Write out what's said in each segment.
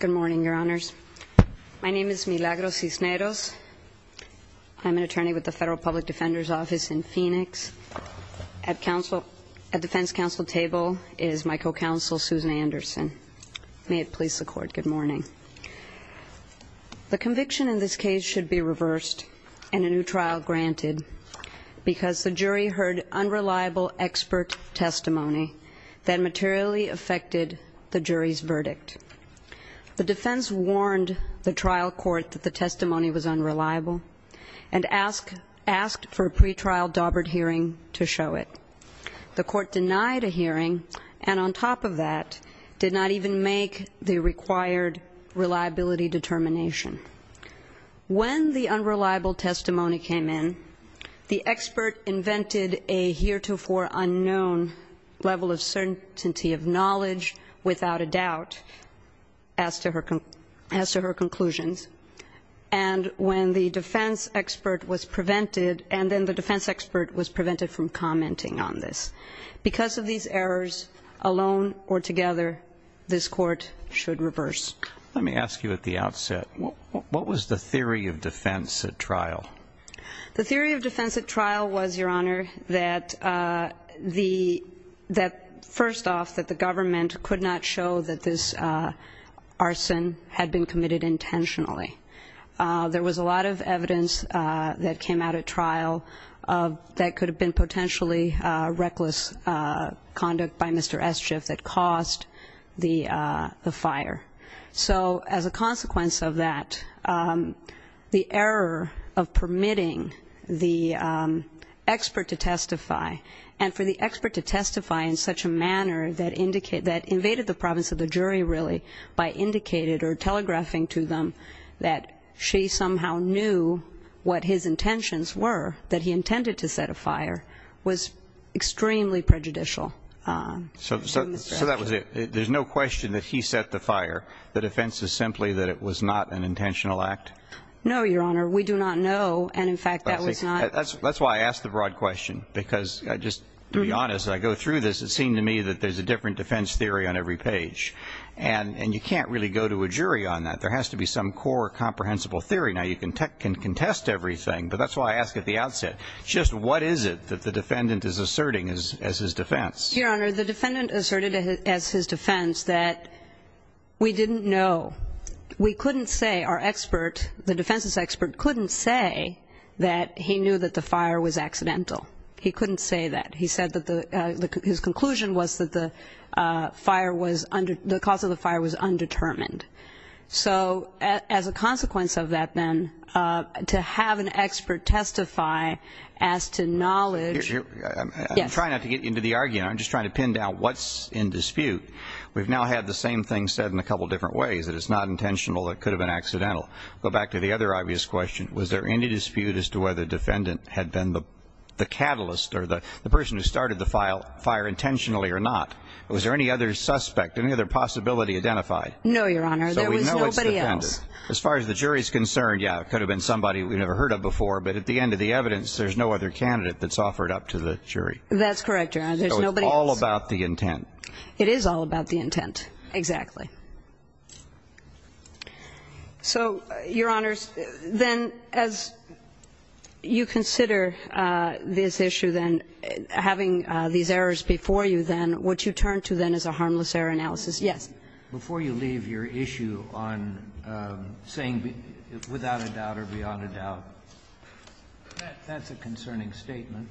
Good morning, your honors. My name is Milagro Cisneros. I'm an attorney with the Federal Public Defender's Office in Phoenix. At defense counsel table is my co-counsel, Susan Anderson. May it please the court, good morning. The conviction in this case should be reversed and a new trial granted because the jury heard unreliable expert testimony that materially affected the jury's verdict. The defense warned the trial court that the testimony was unreliable and asked for a pretrial daubered hearing to show it. The court denied a hearing and on top of that did not even make the required reliability determination. When the unreliable testimony came in, the expert invented a heretofore unknown level of certainty of knowledge without a doubt as to her conclusions. And when the defense expert was prevented, and then the defense expert was prevented from commenting on this. Because of these errors, alone or together, this court should reverse. Let me ask you at the outset, what was the theory of defense at trial? The theory of defense at trial was, your honor, that the, that first off, that the government could not show that this arson had been committed intentionally. There was a lot of evidence that came out at trial that could have been potentially reckless conduct by Mr. Eschiff that caused the fire. So as a consequence of that, the error of permitting the expert to testify and for the expert to testify in such a manner that indicated, that invaded the province of the jury really, by indicating or telegraphing to them that she somehow knew what his intentions were, that he intended to set a fire, was extremely prejudicial. So that was it. There's no question that he set the fire. The defense is simply that it was not an intentional act? No, your honor. We do not know. And in fact, that was not. That's why I asked the broad question. Because I just, to be honest, I go through this, it seemed to me that there's a different defense theory on every page. And you can't really go to a jury on that. There has to be some core comprehensible theory. Now, you can contest everything, but that's why I asked at the outset, just what is it that the defendant is asserting as his defense? Your honor, the defendant asserted as his defense that we didn't know. We couldn't say, our expert, the defense's expert couldn't say that he knew that the fire was accidental. He couldn't say that. He said that his conclusion was that the cause of the fire was undetermined. So as a consequence of that, then, to have an expert testify as to knowledge I'm trying not to get into the argument. I'm just trying to pin down what's in dispute. We've now had the same thing said in a couple different ways, that it's not intentional, it could have been accidental. Go back to the other obvious question. Was there any dispute as to whether the defendant had been the catalyst or the person who started the fire intentionally or not? Was there any other suspect, any other possibility identified? No, your honor. There was nobody else. So we know it's the defendant. As far as the jury's concerned, yeah, it could have been somebody we'd never heard of before, but at the end of the evidence, there's no other candidate that's offered up to the jury. That's correct, your honor. There's nobody else. So it's all about the intent. It is all about the intent, exactly. So, your honors, then, as you consider this issue, then, having these errors before you, then, would you turn to, then, as a harmless error analysis? Yes. Before you leave your issue on saying without a doubt or beyond a doubt, that's a concerning statement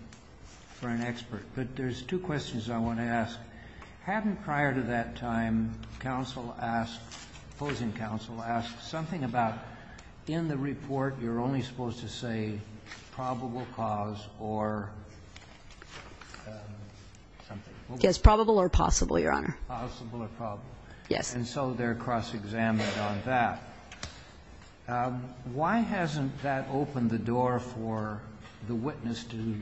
for an expert. But there's two questions I want to ask. One, hadn't prior to that time counsel asked, opposing counsel asked, something about in the report you're only supposed to say probable cause or something? Yes, probable or possible, your honor. Possible or probable. Yes. And so they're cross-examined on that. Why hasn't that opened the door for the witness to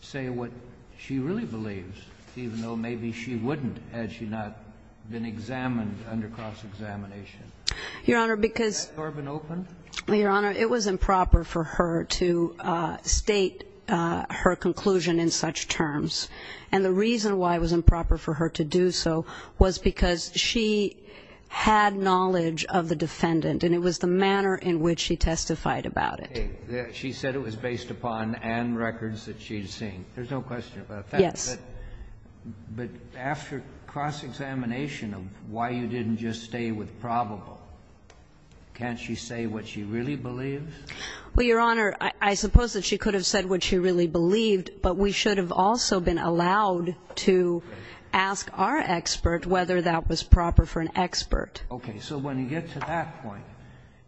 say what she really believes, even though maybe she wouldn't had she not been examined under cross-examination? Your honor, because ---- Has that door been opened? Your honor, it was improper for her to state her conclusion in such terms. And the reason why it was improper for her to do so was because she had knowledge of the defendant, and it was the manner in which she testified about it. She said it was based upon Anne records that she had seen. There's no question about that. But after cross-examination of why you didn't just stay with probable, can't she say what she really believes? Well, your honor, I suppose that she could have said what she really believed, but we should have also been allowed to ask our expert whether that was proper for an expert. Okay. So when you get to that point,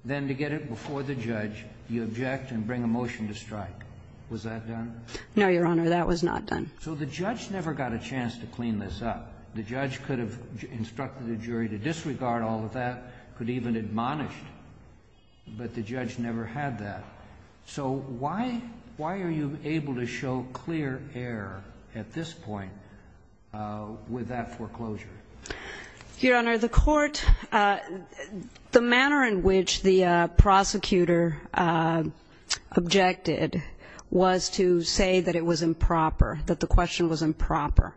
then to get it before the judge, you object and bring a motion to strike. Was that done? No, your honor. That was not done. So the judge never got a chance to clean this up. The judge could have instructed the jury to disregard all of that, could even admonish, but the judge never had that. So why are you able to show clear error at this point with that foreclosure? Your honor, the court, the manner in which the prosecutor objected was to say that it was improper, that the question was improper.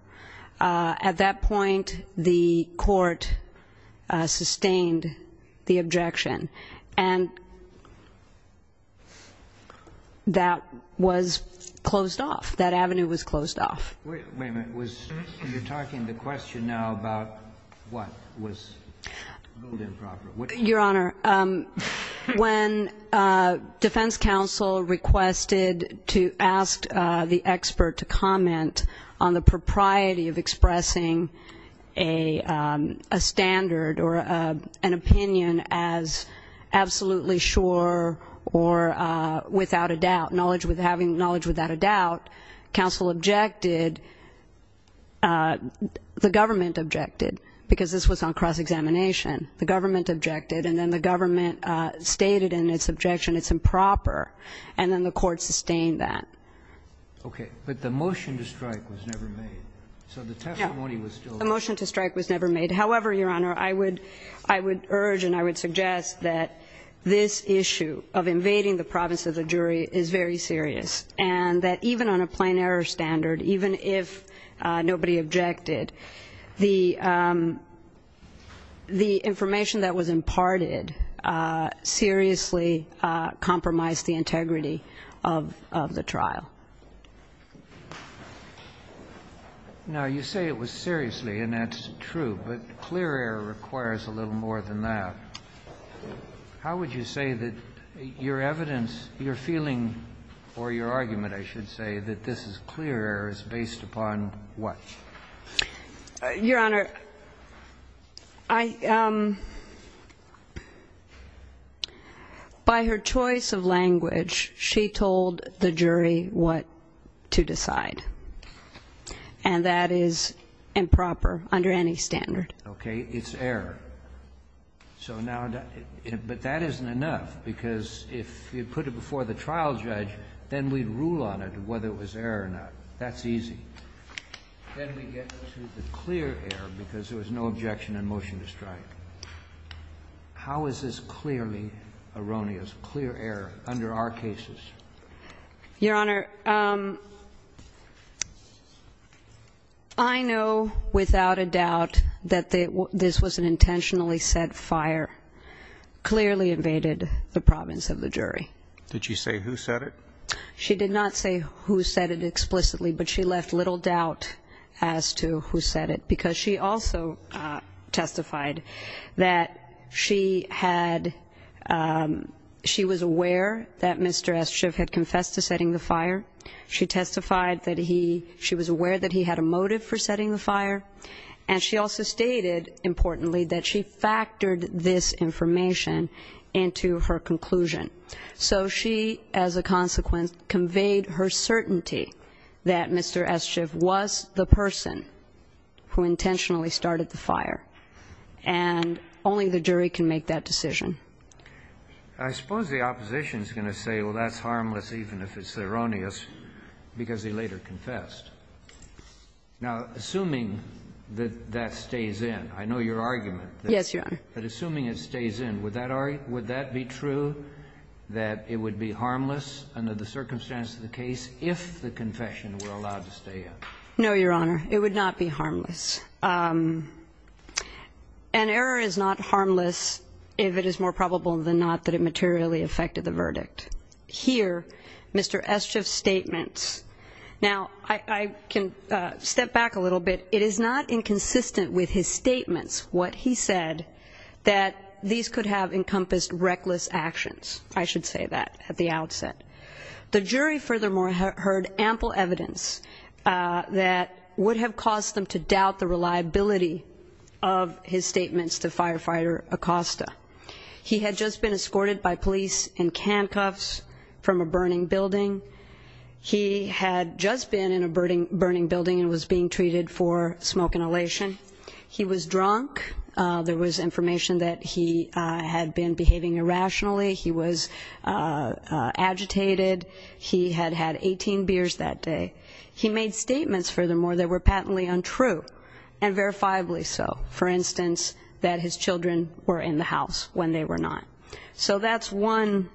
At that point, the court sustained the objection, and that was closed off. That avenue was closed off. Wait a minute. You're talking the question now about what was ruled improper. Your honor, when defense counsel requested to ask the expert to comment on the propriety of expressing a standard or an opinion as absolutely sure or without a doubt, knowledge without a doubt, counsel objected, the government objected, because this was on cross-examination. The government objected, and then the government stated in its objection it's improper, and then the court sustained that. Okay. But the motion to strike was never made. So the testimony was still there. The motion to strike was never made. However, your honor, I would urge and I would suggest that this issue of invading the province of the jury is very serious, and that even on a plain error standard, even if nobody objected, the information that was imparted seriously compromised the integrity of the trial. Now, you say it was seriously, and that's true, but clear error requires a little more than that. How would you say that your evidence, your feeling, or your argument, I should say, that this is clear error is based upon what? Your honor, I, by her choice of language, she told the jury what to decide. And that is improper under any standard. Okay. It's error. So now, but that isn't enough, because if you put it before the trial judge, then we rule on it whether it was error or not. That's easy. Then we get to the clear error, because there was no objection in motion to strike. How is this clearly erroneous, clear error, under our cases? Your honor, I know without a doubt that this was an intentionally set fire, clearly invaded the province of the jury. Did she say who set it? She did not say who set it explicitly, but she left little doubt as to who set it, because she also testified that she had, she was aware that Mr. Eschiff had confessed to setting the fire. She testified that he, she was aware that he had a motive for setting the fire. And she also stated, importantly, that she factored this information into her conclusion. So she, as a consequence, conveyed her certainty that Mr. Eschiff was the person who intentionally started the fire. And only the jury can make that decision. I suppose the opposition is going to say, well, that's harmless even if it's erroneous, because he later confessed. Now, assuming that that stays in, I know your argument. Yes, Your Honor. But assuming it stays in, would that be true, that it would be harmless under the circumstances of the case if the confession were allowed to stay in? No, Your Honor. It would not be harmless. An error is not harmless if it is more probable than not that it materially affected the verdict. Here, Mr. Eschiff's statements. Now, I can step back a little bit. It is not inconsistent with his statements, what he said, that these could have encompassed reckless actions. I should say that at the outset. The jury, furthermore, heard ample evidence that would have caused them to doubt the reliability of his statements to Firefighter Acosta. He had just been escorted by police in handcuffs from a burning building. He had just been in a burning building and was being treated for smoke inhalation. He was drunk. There was information that he had been behaving irrationally. He was agitated. He had had 18 beers that day. He made statements, furthermore, that were patently untrue, and verifiably so. For instance, that his children were in the house when they were not. So that's one.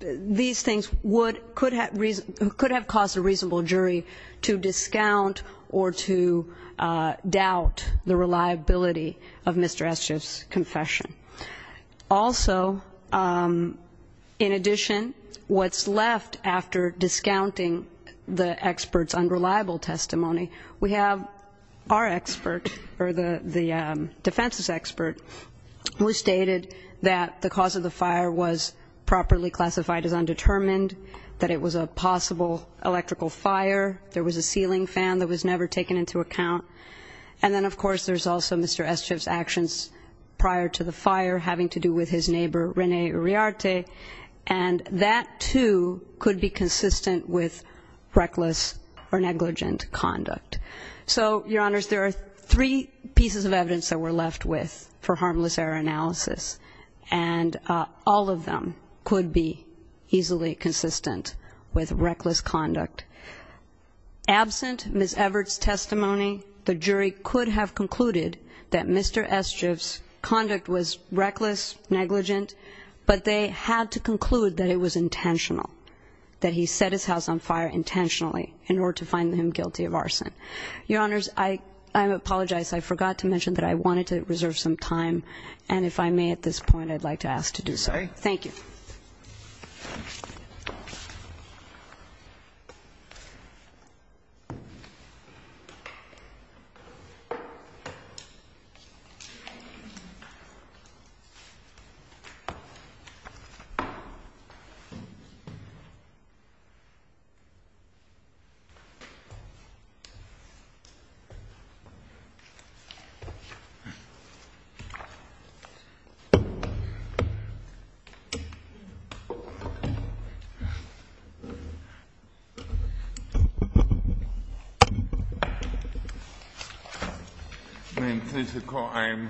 These things could have caused a reasonable jury to discount or to doubt the reliability of Mr. Eschiff's confession. Also, in addition, what's left after discounting the expert's unreliable testimony, we have our expert, or the defense's expert, who stated that the cause of the fire was properly classified as undetermined, that it was a possible electrical fire. There was a ceiling fan that was never taken into account. And then, of course, there's also Mr. Eschiff's actions prior to the fire having to do with his neighbor, Rene Uriarte, and that, too, could be consistent with reckless or negligent conduct. So, Your Honors, there are three pieces of evidence that we're left with for harmless error analysis, and all of them could be easily consistent with reckless conduct. Absent Ms. Everett's testimony, the jury could have concluded that Mr. Eschiff's conduct was reckless, negligent, but they had to conclude that it was intentional, that he set his house on fire intentionally in order to find him guilty of arson. Your Honors, I apologize. I forgot to mention that I wanted to reserve some time, and if I may at this point, I'd like to ask to do so. Okay. Thank you. Thank you. Well, I do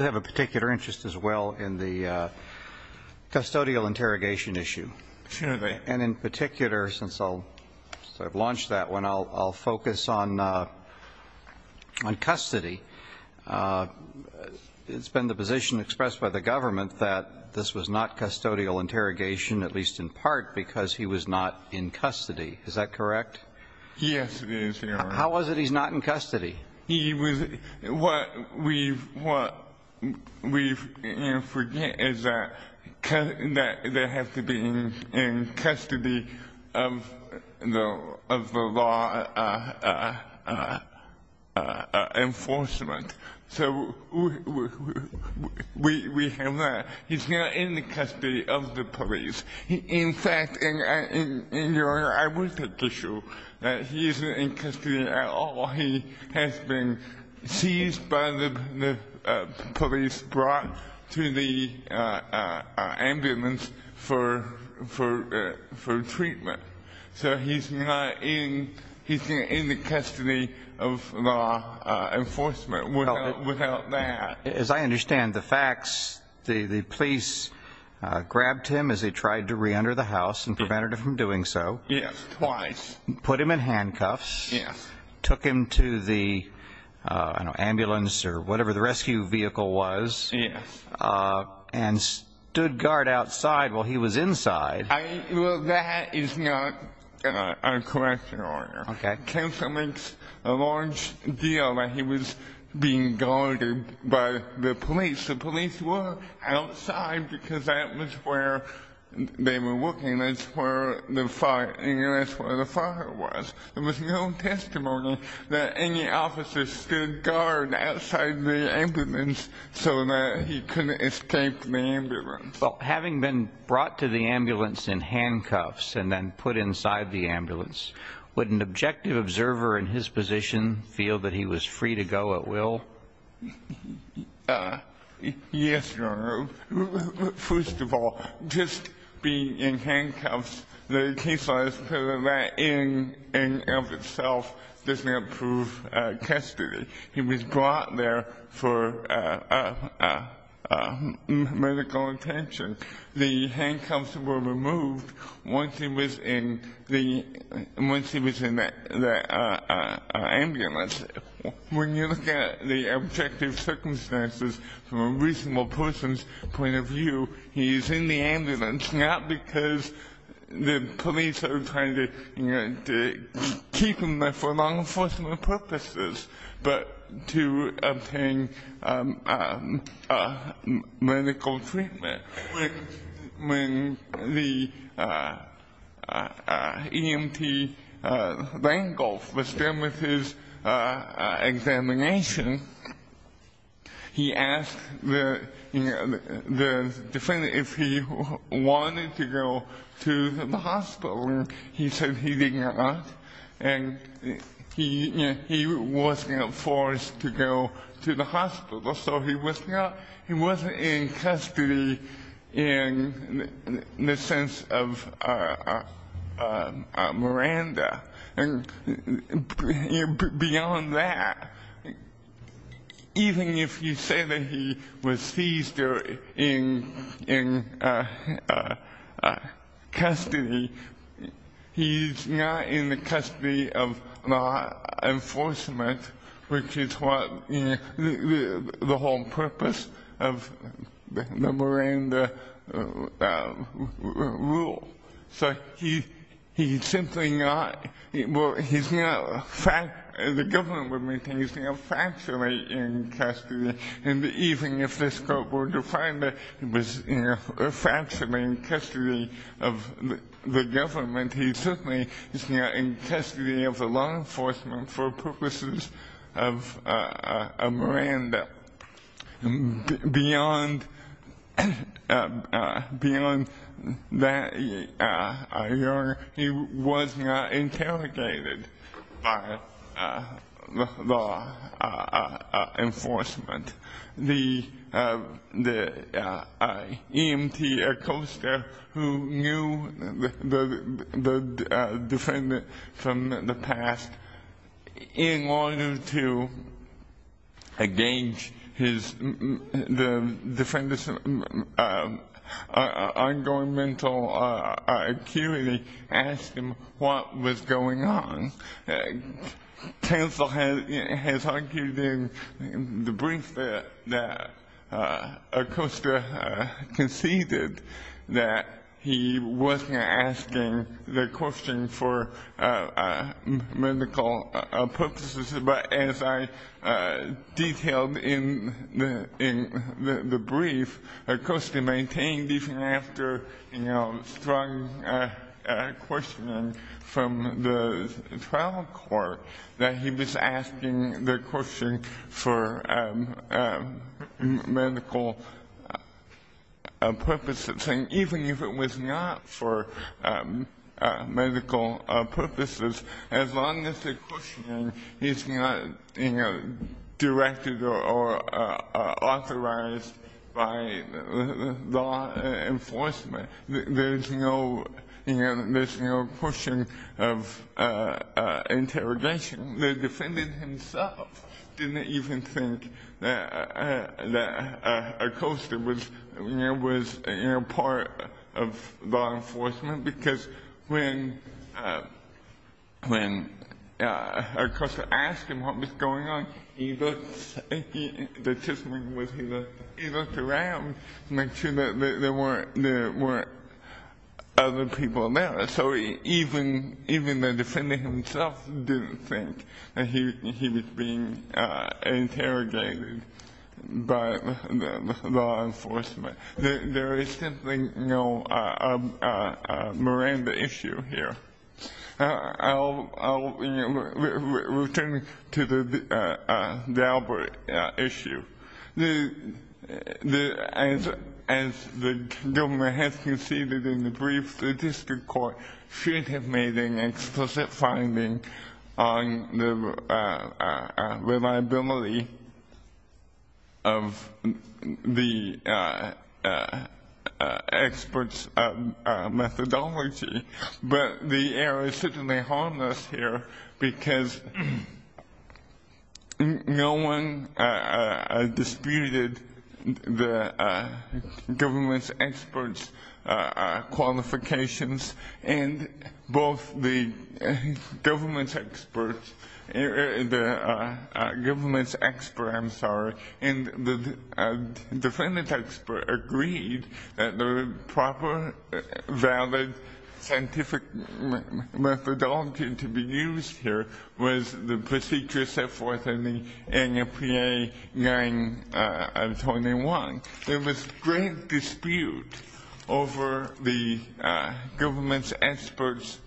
have a particular interest, as well, in the custodial interrogation issue. Sure thing. And in particular, since I'll sort of launch that one, I'll focus on custody. It's been the position expressed by the government that this was not custodial interrogation, at least in part, because he was not in custody. Is that correct? Yes, it is, Your Honor. How was it he's not in custody? What we forget is that they have to be in custody of the law enforcement, so we have that. He's not in the custody of the police. In fact, Your Honor, I would like to show that he isn't in custody at all. He has been seized by the police, brought to the ambulance for treatment. So he's not in the custody of law enforcement without that. As I understand the facts, the police grabbed him as he tried to reenter the house and prevented him from doing so. Yes, twice. Put him in handcuffs. Yes. Took him to the ambulance or whatever the rescue vehicle was. Yes. And stood guard outside while he was inside. Well, that is not a correction, Your Honor. Okay. Counsel makes a large deal that he was being guarded by the police. The police were outside because that was where they were working. That's where the fire was. There was no testimony that any officers stood guard outside the ambulance so that he couldn't escape the ambulance. Well, having been brought to the ambulance in handcuffs and then put inside the ambulance, would an objective observer in his position feel that he was free to go at will? Yes, Your Honor. First of all, just being in handcuffs, the case law says that in and of itself doesn't approve custody. He was brought there for medical attention. The handcuffs were removed once he was in the ambulance. When you look at the objective circumstances from a reasonable person's point of view, he's in the ambulance not because the police are trying to keep him there for law enforcement purposes, but to obtain medical treatment. When the EMT Langolf was done with his examination, he asked the defendant if he wanted to go to the hospital. He said he didn't want to, and he wasn't forced to go to the hospital. So he wasn't in custody in the sense of Miranda. And beyond that, even if you say that he was seized in custody, he's not in the custody of law enforcement, which is the whole purpose of the Miranda rule. So he's simply not, he's not, the government would maintain he's factually in custody. And even if this court were to find that he was factually in custody of the government, he certainly is not in custody of the law enforcement for purposes of Miranda. Beyond that, he was not interrogated by law enforcement. The EMT Acosta, who knew the defendant from the past, in order to engage the defendant's ongoing mental acuity, asked him what was going on. Counsel has argued in the brief that Acosta conceded that he wasn't asking the question for medical purposes. But as I detailed in the brief, Acosta maintained even after strong questioning from the trial court that he was asking the question for medical purposes. And even if it was not for medical purposes, as long as the question is not directed or authorized by law enforcement, there's no question of interrogation. The defendant himself didn't even think that Acosta was part of law enforcement because when Acosta asked him what was going on, he looked around to make sure that there weren't other people there. So even the defendant himself didn't think that he was being interrogated by law enforcement. There is simply no Miranda issue here. I'll return to the Daubert issue. As the government has conceded in the brief, should have made an explicit finding on the reliability of the experts' methodology. But the error is certainly harmless here because no one disputed the government's experts' qualifications and both the government's experts and the defendant's experts agreed that the proper, valid scientific methodology to be used here was the procedure set forth in the annual PA 9 of 21. There was great dispute over the government's experts'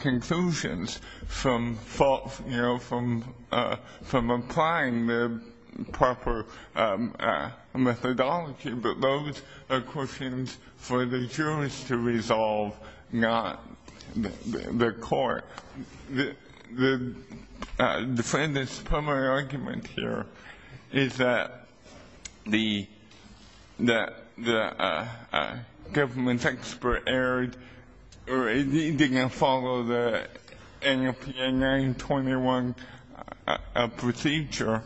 conclusions from applying the proper methodology. But those are questions for the jurors to resolve, not the court. The defendant's primary argument here is that the government's expert error didn't follow the annual PA 9 of 21 procedure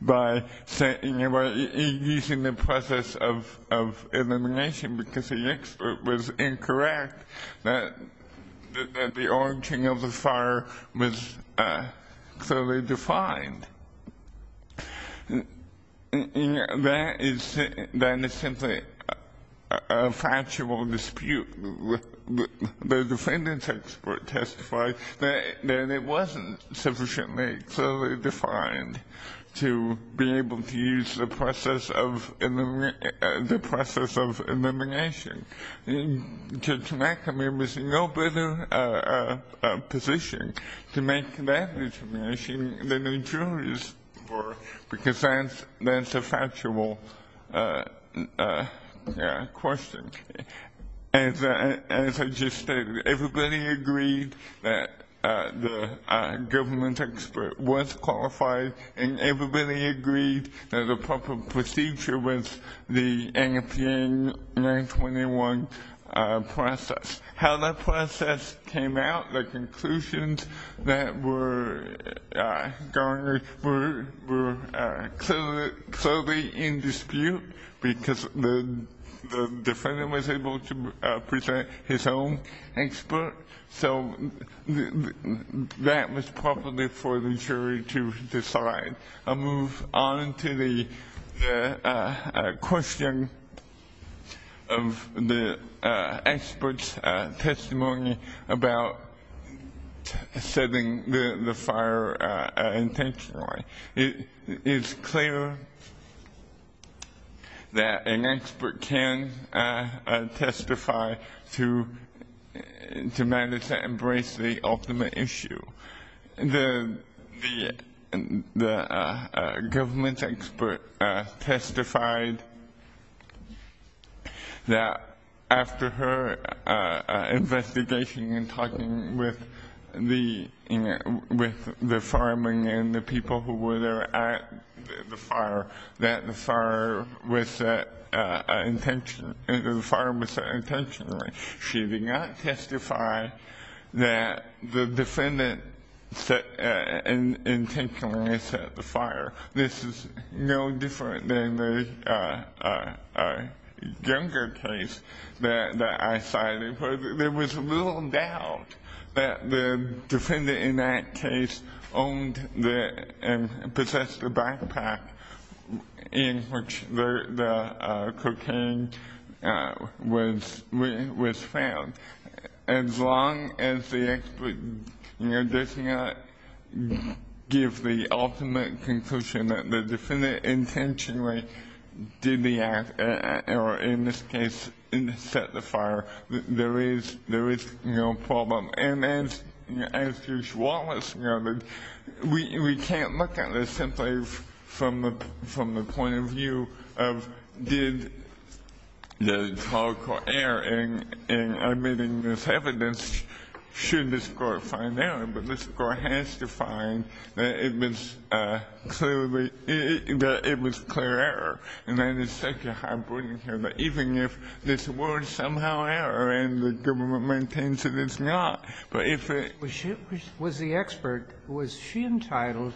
by using the process of elimination because the expert was incorrect that the origin of the fire was clearly defined. That is simply a factual dispute. The defendant's expert testified that it wasn't sufficiently clearly defined to be able to use the process of elimination. Judge McAmeer was in no better position to make that determination than the jurors were because that's a factual question. As I just stated, everybody agreed that the government's expert was qualified and everybody agreed that the proper procedure was the annual PA 9 of 21 process. How that process came out, the conclusions that were garnered, were clearly in dispute because the defendant was able to present his own expert. So that was probably for the jury to decide. I'll move on to the question of the expert's testimony about setting the fire intentionally. It is clear that an expert can testify to manage to embrace the ultimate issue. The government's expert testified that after her investigation and talking with the fireman and the people who were there at the fire, that the fire was set intentionally. She did not testify that the defendant intentionally set the fire. This is no different than the Junger case that I cited. There was little doubt that the defendant in that case owned and possessed a backpack in which the cocaine was found. As long as the expert does not give the ultimate conclusion that the defendant intentionally did the act or in this case set the fire, there is no problem. As Judge Wallace noted, we can't look at this simply from the point of view of did the trial court err in admitting this evidence? Should the court find error? But the court has to find that it was clear error. And then it's such a high burden here that even if this were somehow error and the government maintains that it's not, but if it was the expert, was she entitled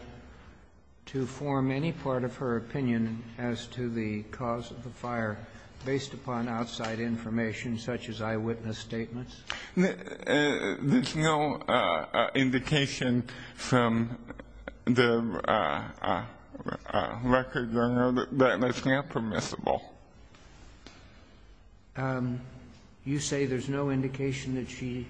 to form any part of her opinion as to the cause of the fire based upon outside information such as eyewitness statements? There's no indication from the record, Your Honor, that that's not permissible. You say there's no indication that she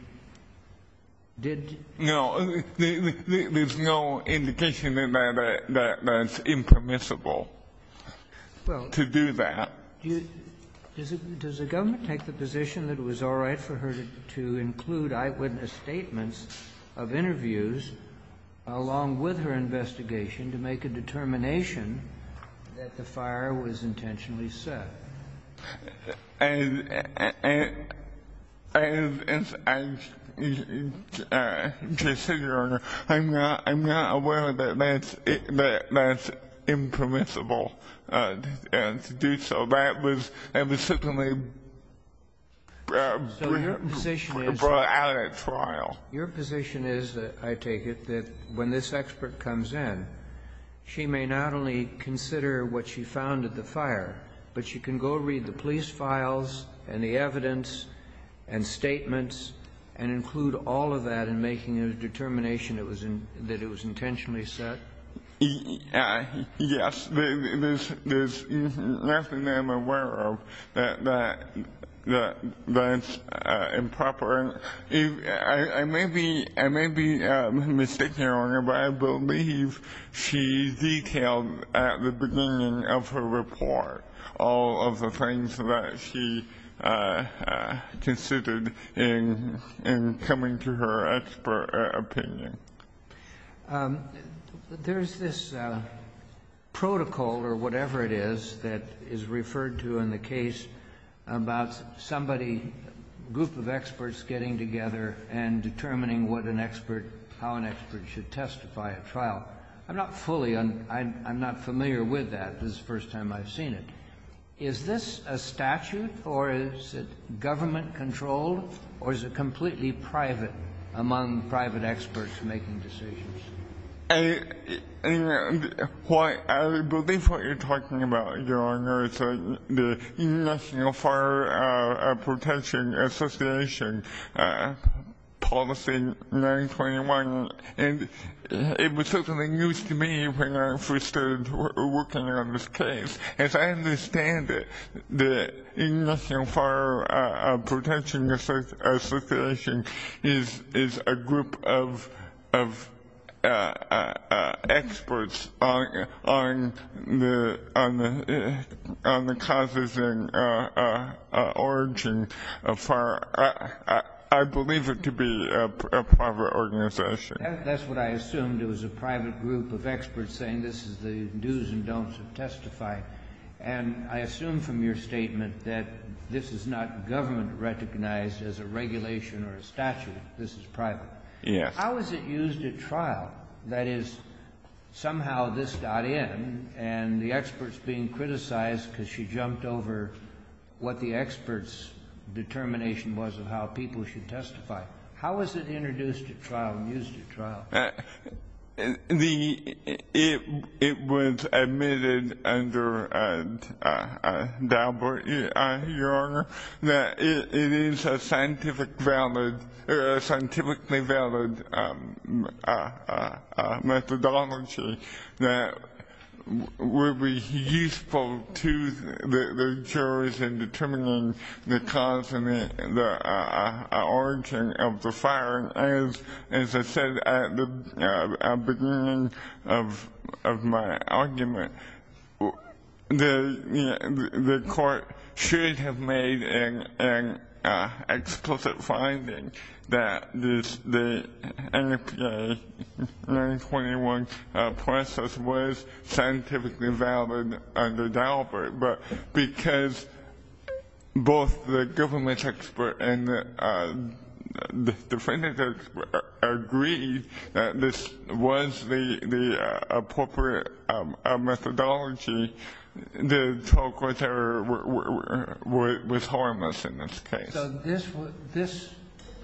did? No. There's no indication that that's impermissible to do that. Does the government take the position that it was all right for her to include eyewitness statements of interviews along with her investigation to make a determination that the fire was intentionally set? And, Your Honor, I'm not aware that that's impermissible to do so. That was simply brought out at trial. Your position is, I take it, that when this expert comes in, she may not only consider what she found at the fire, but she can go read the police files and the evidence and statements and include all of that in making a determination that it was intentionally set? Yes. There's nothing that I'm aware of that's improper. I may be mistaken, Your Honor, but I believe she detailed at the beginning of her report all of the things that she considered in coming to her expert opinion. There's this protocol or whatever it is that is referred to in the case about somebody, a group of experts getting together and determining how an expert should testify at trial. I'm not familiar with that. This is the first time I've seen it. Is this a statute or is it government-controlled or is it completely private among private experts making decisions? I believe what you're talking about, Your Honor, is the International Fire Protection Association Policy 921. It was certainly new to me when I first started working on this case. As I understand it, the International Fire Protection Association is a group of experts on the causes and origins of fire. I believe it to be a private organization. That's what I assumed. It was a private group of experts saying this is the dos and don'ts of testifying. And I assume from your statement that this is not government-recognized as a regulation or a statute. This is private. Yes. How is it used at trial? That is, somehow this got in and the expert's being criticized because she jumped over what the expert's determination was of how people should testify. How is it introduced at trial and used at trial? It was admitted under Daubert, Your Honor, that it is a scientifically valid methodology that would be useful to the jurors in determining the cause and the origin of the fire. As I said at the beginning of my argument, the court should have made an explicit finding that the NFPA 921 process was scientifically valid under Daubert. But because both the government expert and the defendant agreed that this was the appropriate methodology, the talk was harmless in this case. So this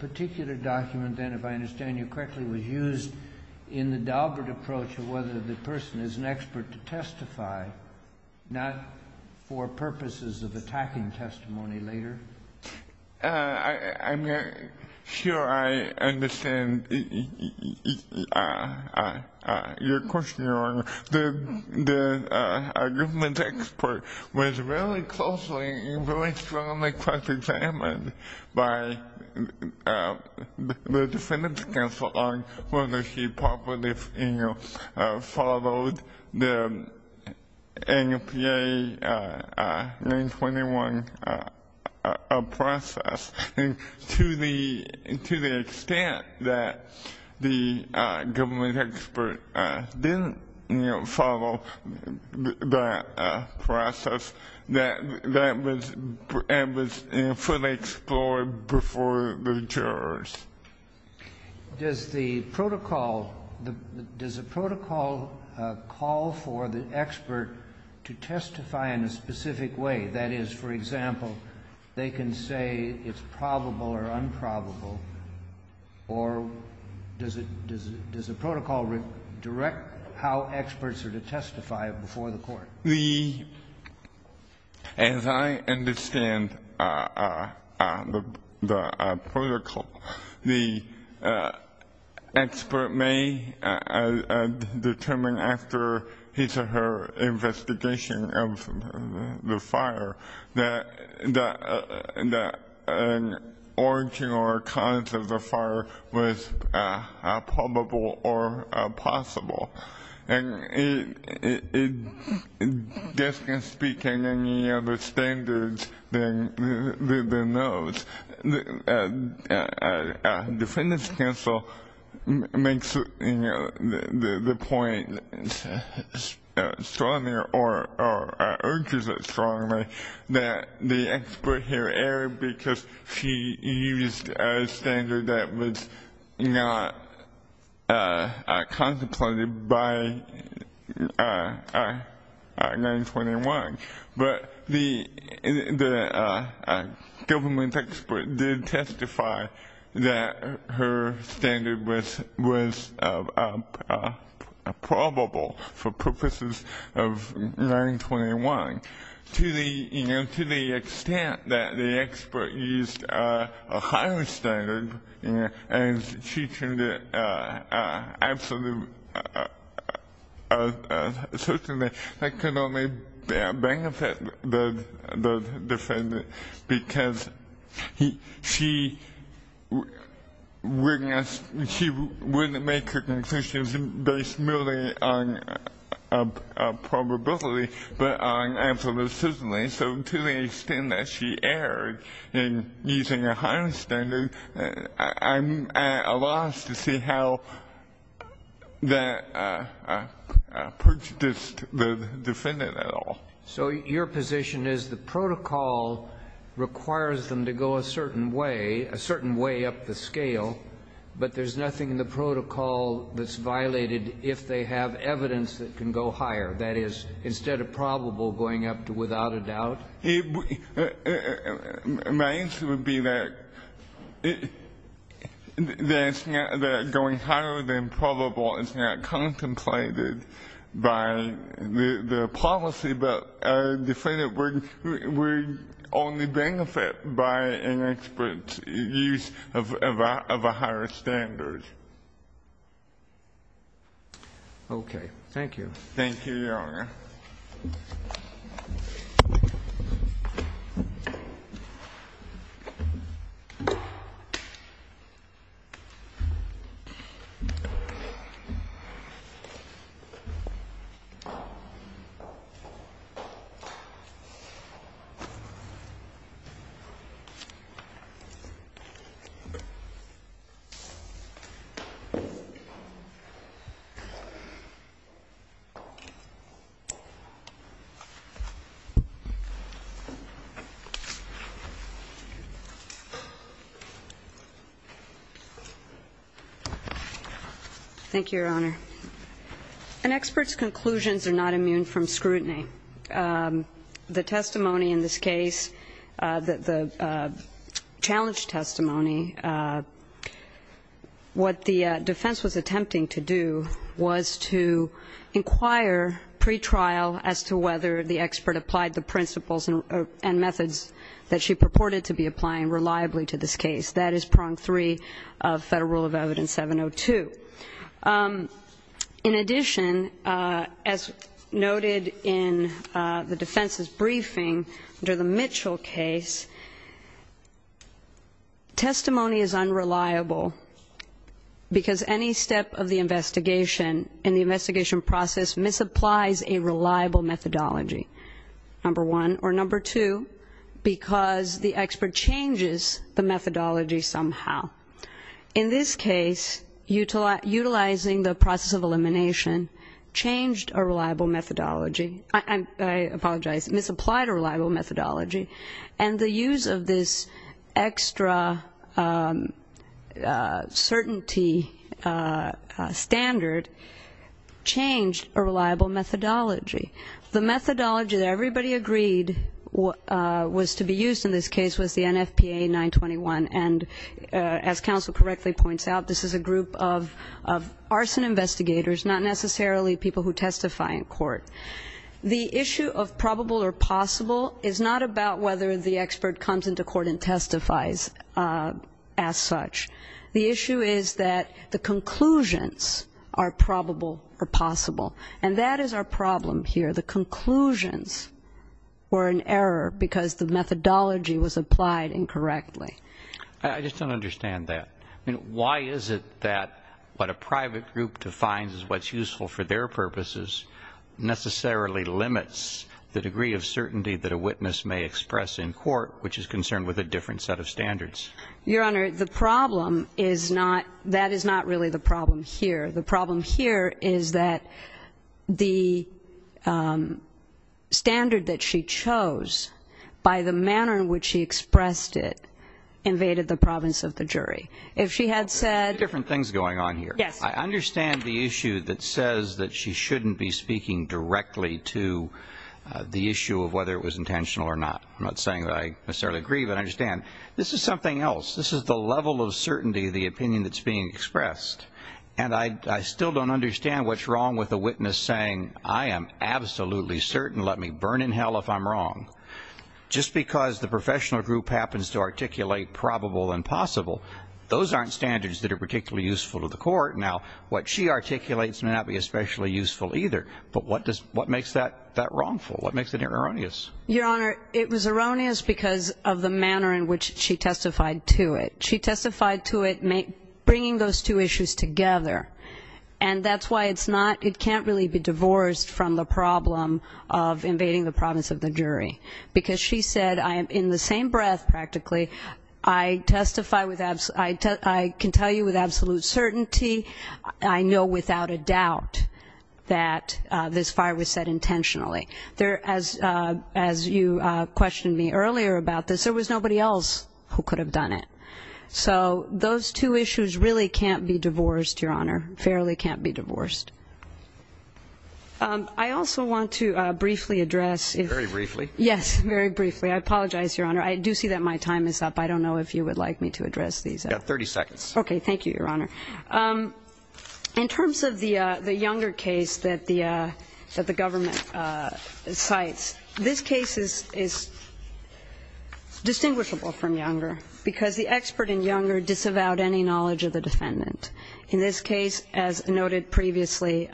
particular document then, if I understand you correctly, was used in the Daubert approach of whether the person is an expert to testify, not for purposes of attacking testimony later? I'm not sure I understand your question, Your Honor. The government expert was very closely and very strongly cross-examined by the defendant's counsel on whether she properly followed the NFPA 921 process. And to the extent that the government expert didn't follow that process, that was fully explored before the jurors. Does the protocol call for the expert to testify in a specific way? That is, for example, they can say it's probable or unprobable, or does the protocol direct how experts are to testify before the court? As I understand the protocol, the expert may determine after his or her investigation of the fire that an origin or cause of the fire was probable or possible. And it doesn't speak to any other standards than those. The defendant's counsel makes the point strongly, or urges it strongly, that the expert here erred because she used a standard that was not contemplated by 921. But the government expert did testify that her standard was probable for purposes of 921. To the extent that the expert used a higher standard, and she turned it absolutely certain that that could only benefit the defendant because she wouldn't make her conclusions based merely on probability, but on absolute certainty. So to the extent that she erred in using a higher standard, I'm at a loss to see how that pertains to the defendant at all. So your position is the protocol requires them to go a certain way, a certain way up the scale, but there's nothing in the protocol that's violated if they have evidence that can go higher. That is, instead of probable, going up to without a doubt? My answer would be that going higher than probable is not contemplated by the policy, but the defendant would only benefit by an expert's use of a higher standard. Okay. Thank you. Thank you, Your Honor. Thank you, Your Honor. An expert's conclusions are not immune from scrutiny. The testimony in this case, the challenge testimony, what the defense was attempting to do was to inquire into the defendant's as to whether the expert applied the principles and methods that she purported to be applying reliably to this case. That is prong three of Federal Rule of Evidence 702. In addition, as noted in the defense's briefing, under the Mitchell case, testimony is unreliable because any step of the investigation in the investigation process misapplies a reliable methodology, number one. Or number two, because the expert changes the methodology somehow. In this case, utilizing the process of elimination changed a reliable methodology. I apologize, it misapplied a reliable methodology. And the use of this extra certainty standard changed a reliable methodology. The methodology that everybody agreed was to be used in this case was the NFPA 921, and as counsel correctly points out, this is a group of arson investigators, the issue of probable or possible is not about whether the expert comes into court and testifies as such. The issue is that the conclusions are probable or possible. And that is our problem here, the conclusions were in error because the methodology was applied incorrectly. I just don't understand that. I mean, why is it that what a private group defines as what's useful for their purposes necessarily limits the degree of certainty that a witness may express in court, which is concerned with a different set of standards? Your Honor, the problem is not, that is not really the problem here. The problem here is that the standard that she chose, by the manner in which she expressed it, invaded the province of the jury. There are two different things going on here. I understand the issue that says that she shouldn't be speaking directly to the issue of whether it was intentional or not. I'm not saying that I necessarily agree, but I understand. This is something else. This is the level of certainty, the opinion that's being expressed. And I still don't understand what's wrong with a witness saying, I am absolutely certain, let me burn in hell if I'm wrong. Just because the professional group happens to articulate probable and possible, those aren't standards that are particularly useful to the court. Now, what she articulates may not be especially useful either. But what makes that wrongful? What makes it erroneous? Your Honor, it was erroneous because of the manner in which she testified to it. She testified to it bringing those two issues together. And that's why it's not, it can't really be divorced from the problem of invading the province of the jury. Because she said, I am in the same breath practically. I testify, I can tell you with absolute certainty, I know without a doubt that this fire was set intentionally. As you questioned me earlier about this, there was nobody else who could have done it. So those two issues really can't be divorced, Your Honor. Fairly can't be divorced. I also want to briefly address. Very briefly. Yes, very briefly. I apologize, Your Honor. I do see that my time is up. I don't know if you would like me to address these. You've got 30 seconds. Okay, thank you, Your Honor. In terms of the Younger case that the government cites, this case is distinguishable from Younger. Because the expert in Younger disavowed any knowledge of the defendant. In this case, as noted previously,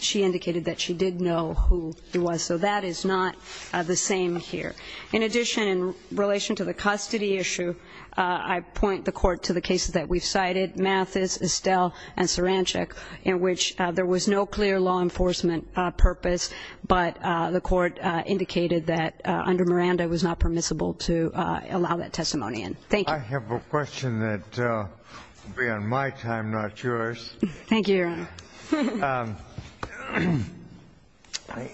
she indicated that she did know who it was. So that is not the same here. In addition, in relation to the custody issue, I point the Court to the cases that we've cited, Mathis, Estelle, and Sarancic, in which there was no clear law enforcement purpose, but the Court indicated that under Miranda it was not permissible to allow that testimony in. Thank you. I have a question that would be on my time, not yours. Thank you, Your Honor.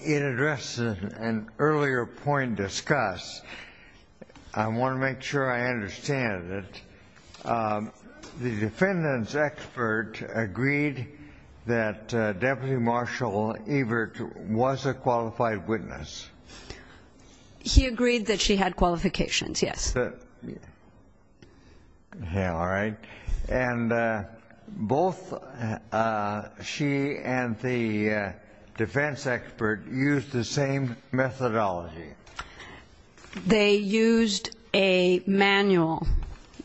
In address to an earlier point discussed, I want to make sure I understand it. The defendant's expert agreed that Deputy Marshal Evert was a qualified witness. He agreed that she had qualifications, yes. Yeah, all right. And both she and the defense expert used the same methodology. They used a manual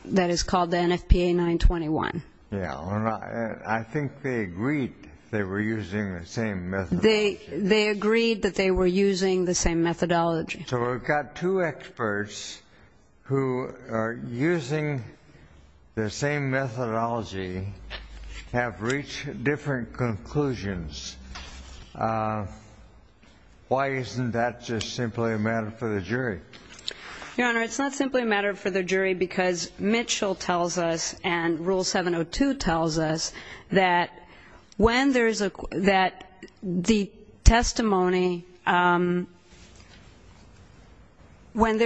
that is called the NFPA 921. Yeah. I think they agreed they were using the same methodology. They agreed that they were using the same methodology. So we've got two experts who are using the same methodology, have reached different conclusions. Why isn't that just simply a matter for the jury? Your Honor, it's not simply a matter for the jury because Mitchell tells us and Rule 702 tells us that when there is unreliable testimony, there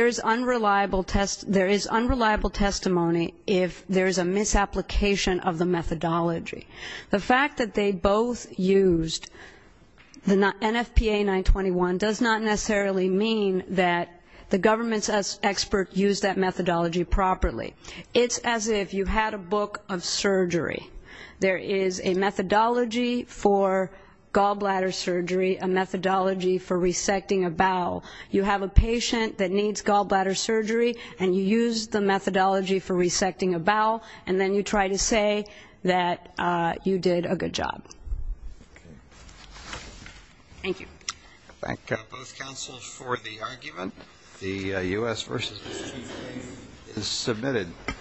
is unreliable testimony if there is a misapplication of the methodology. The fact that they both used the NFPA 921 does not necessarily mean that the government's expert used that methodology properly. It's as if you had a book of surgery. There is a methodology for gallbladder surgery, a methodology for resecting a bowel. You have a patient that needs gallbladder surgery and you use the methodology for resecting a bowel and then you try to say that you did a good job. Okay. Thank you. Thank both counsels for the argument. The U.S. v. Mississippi case is submitted.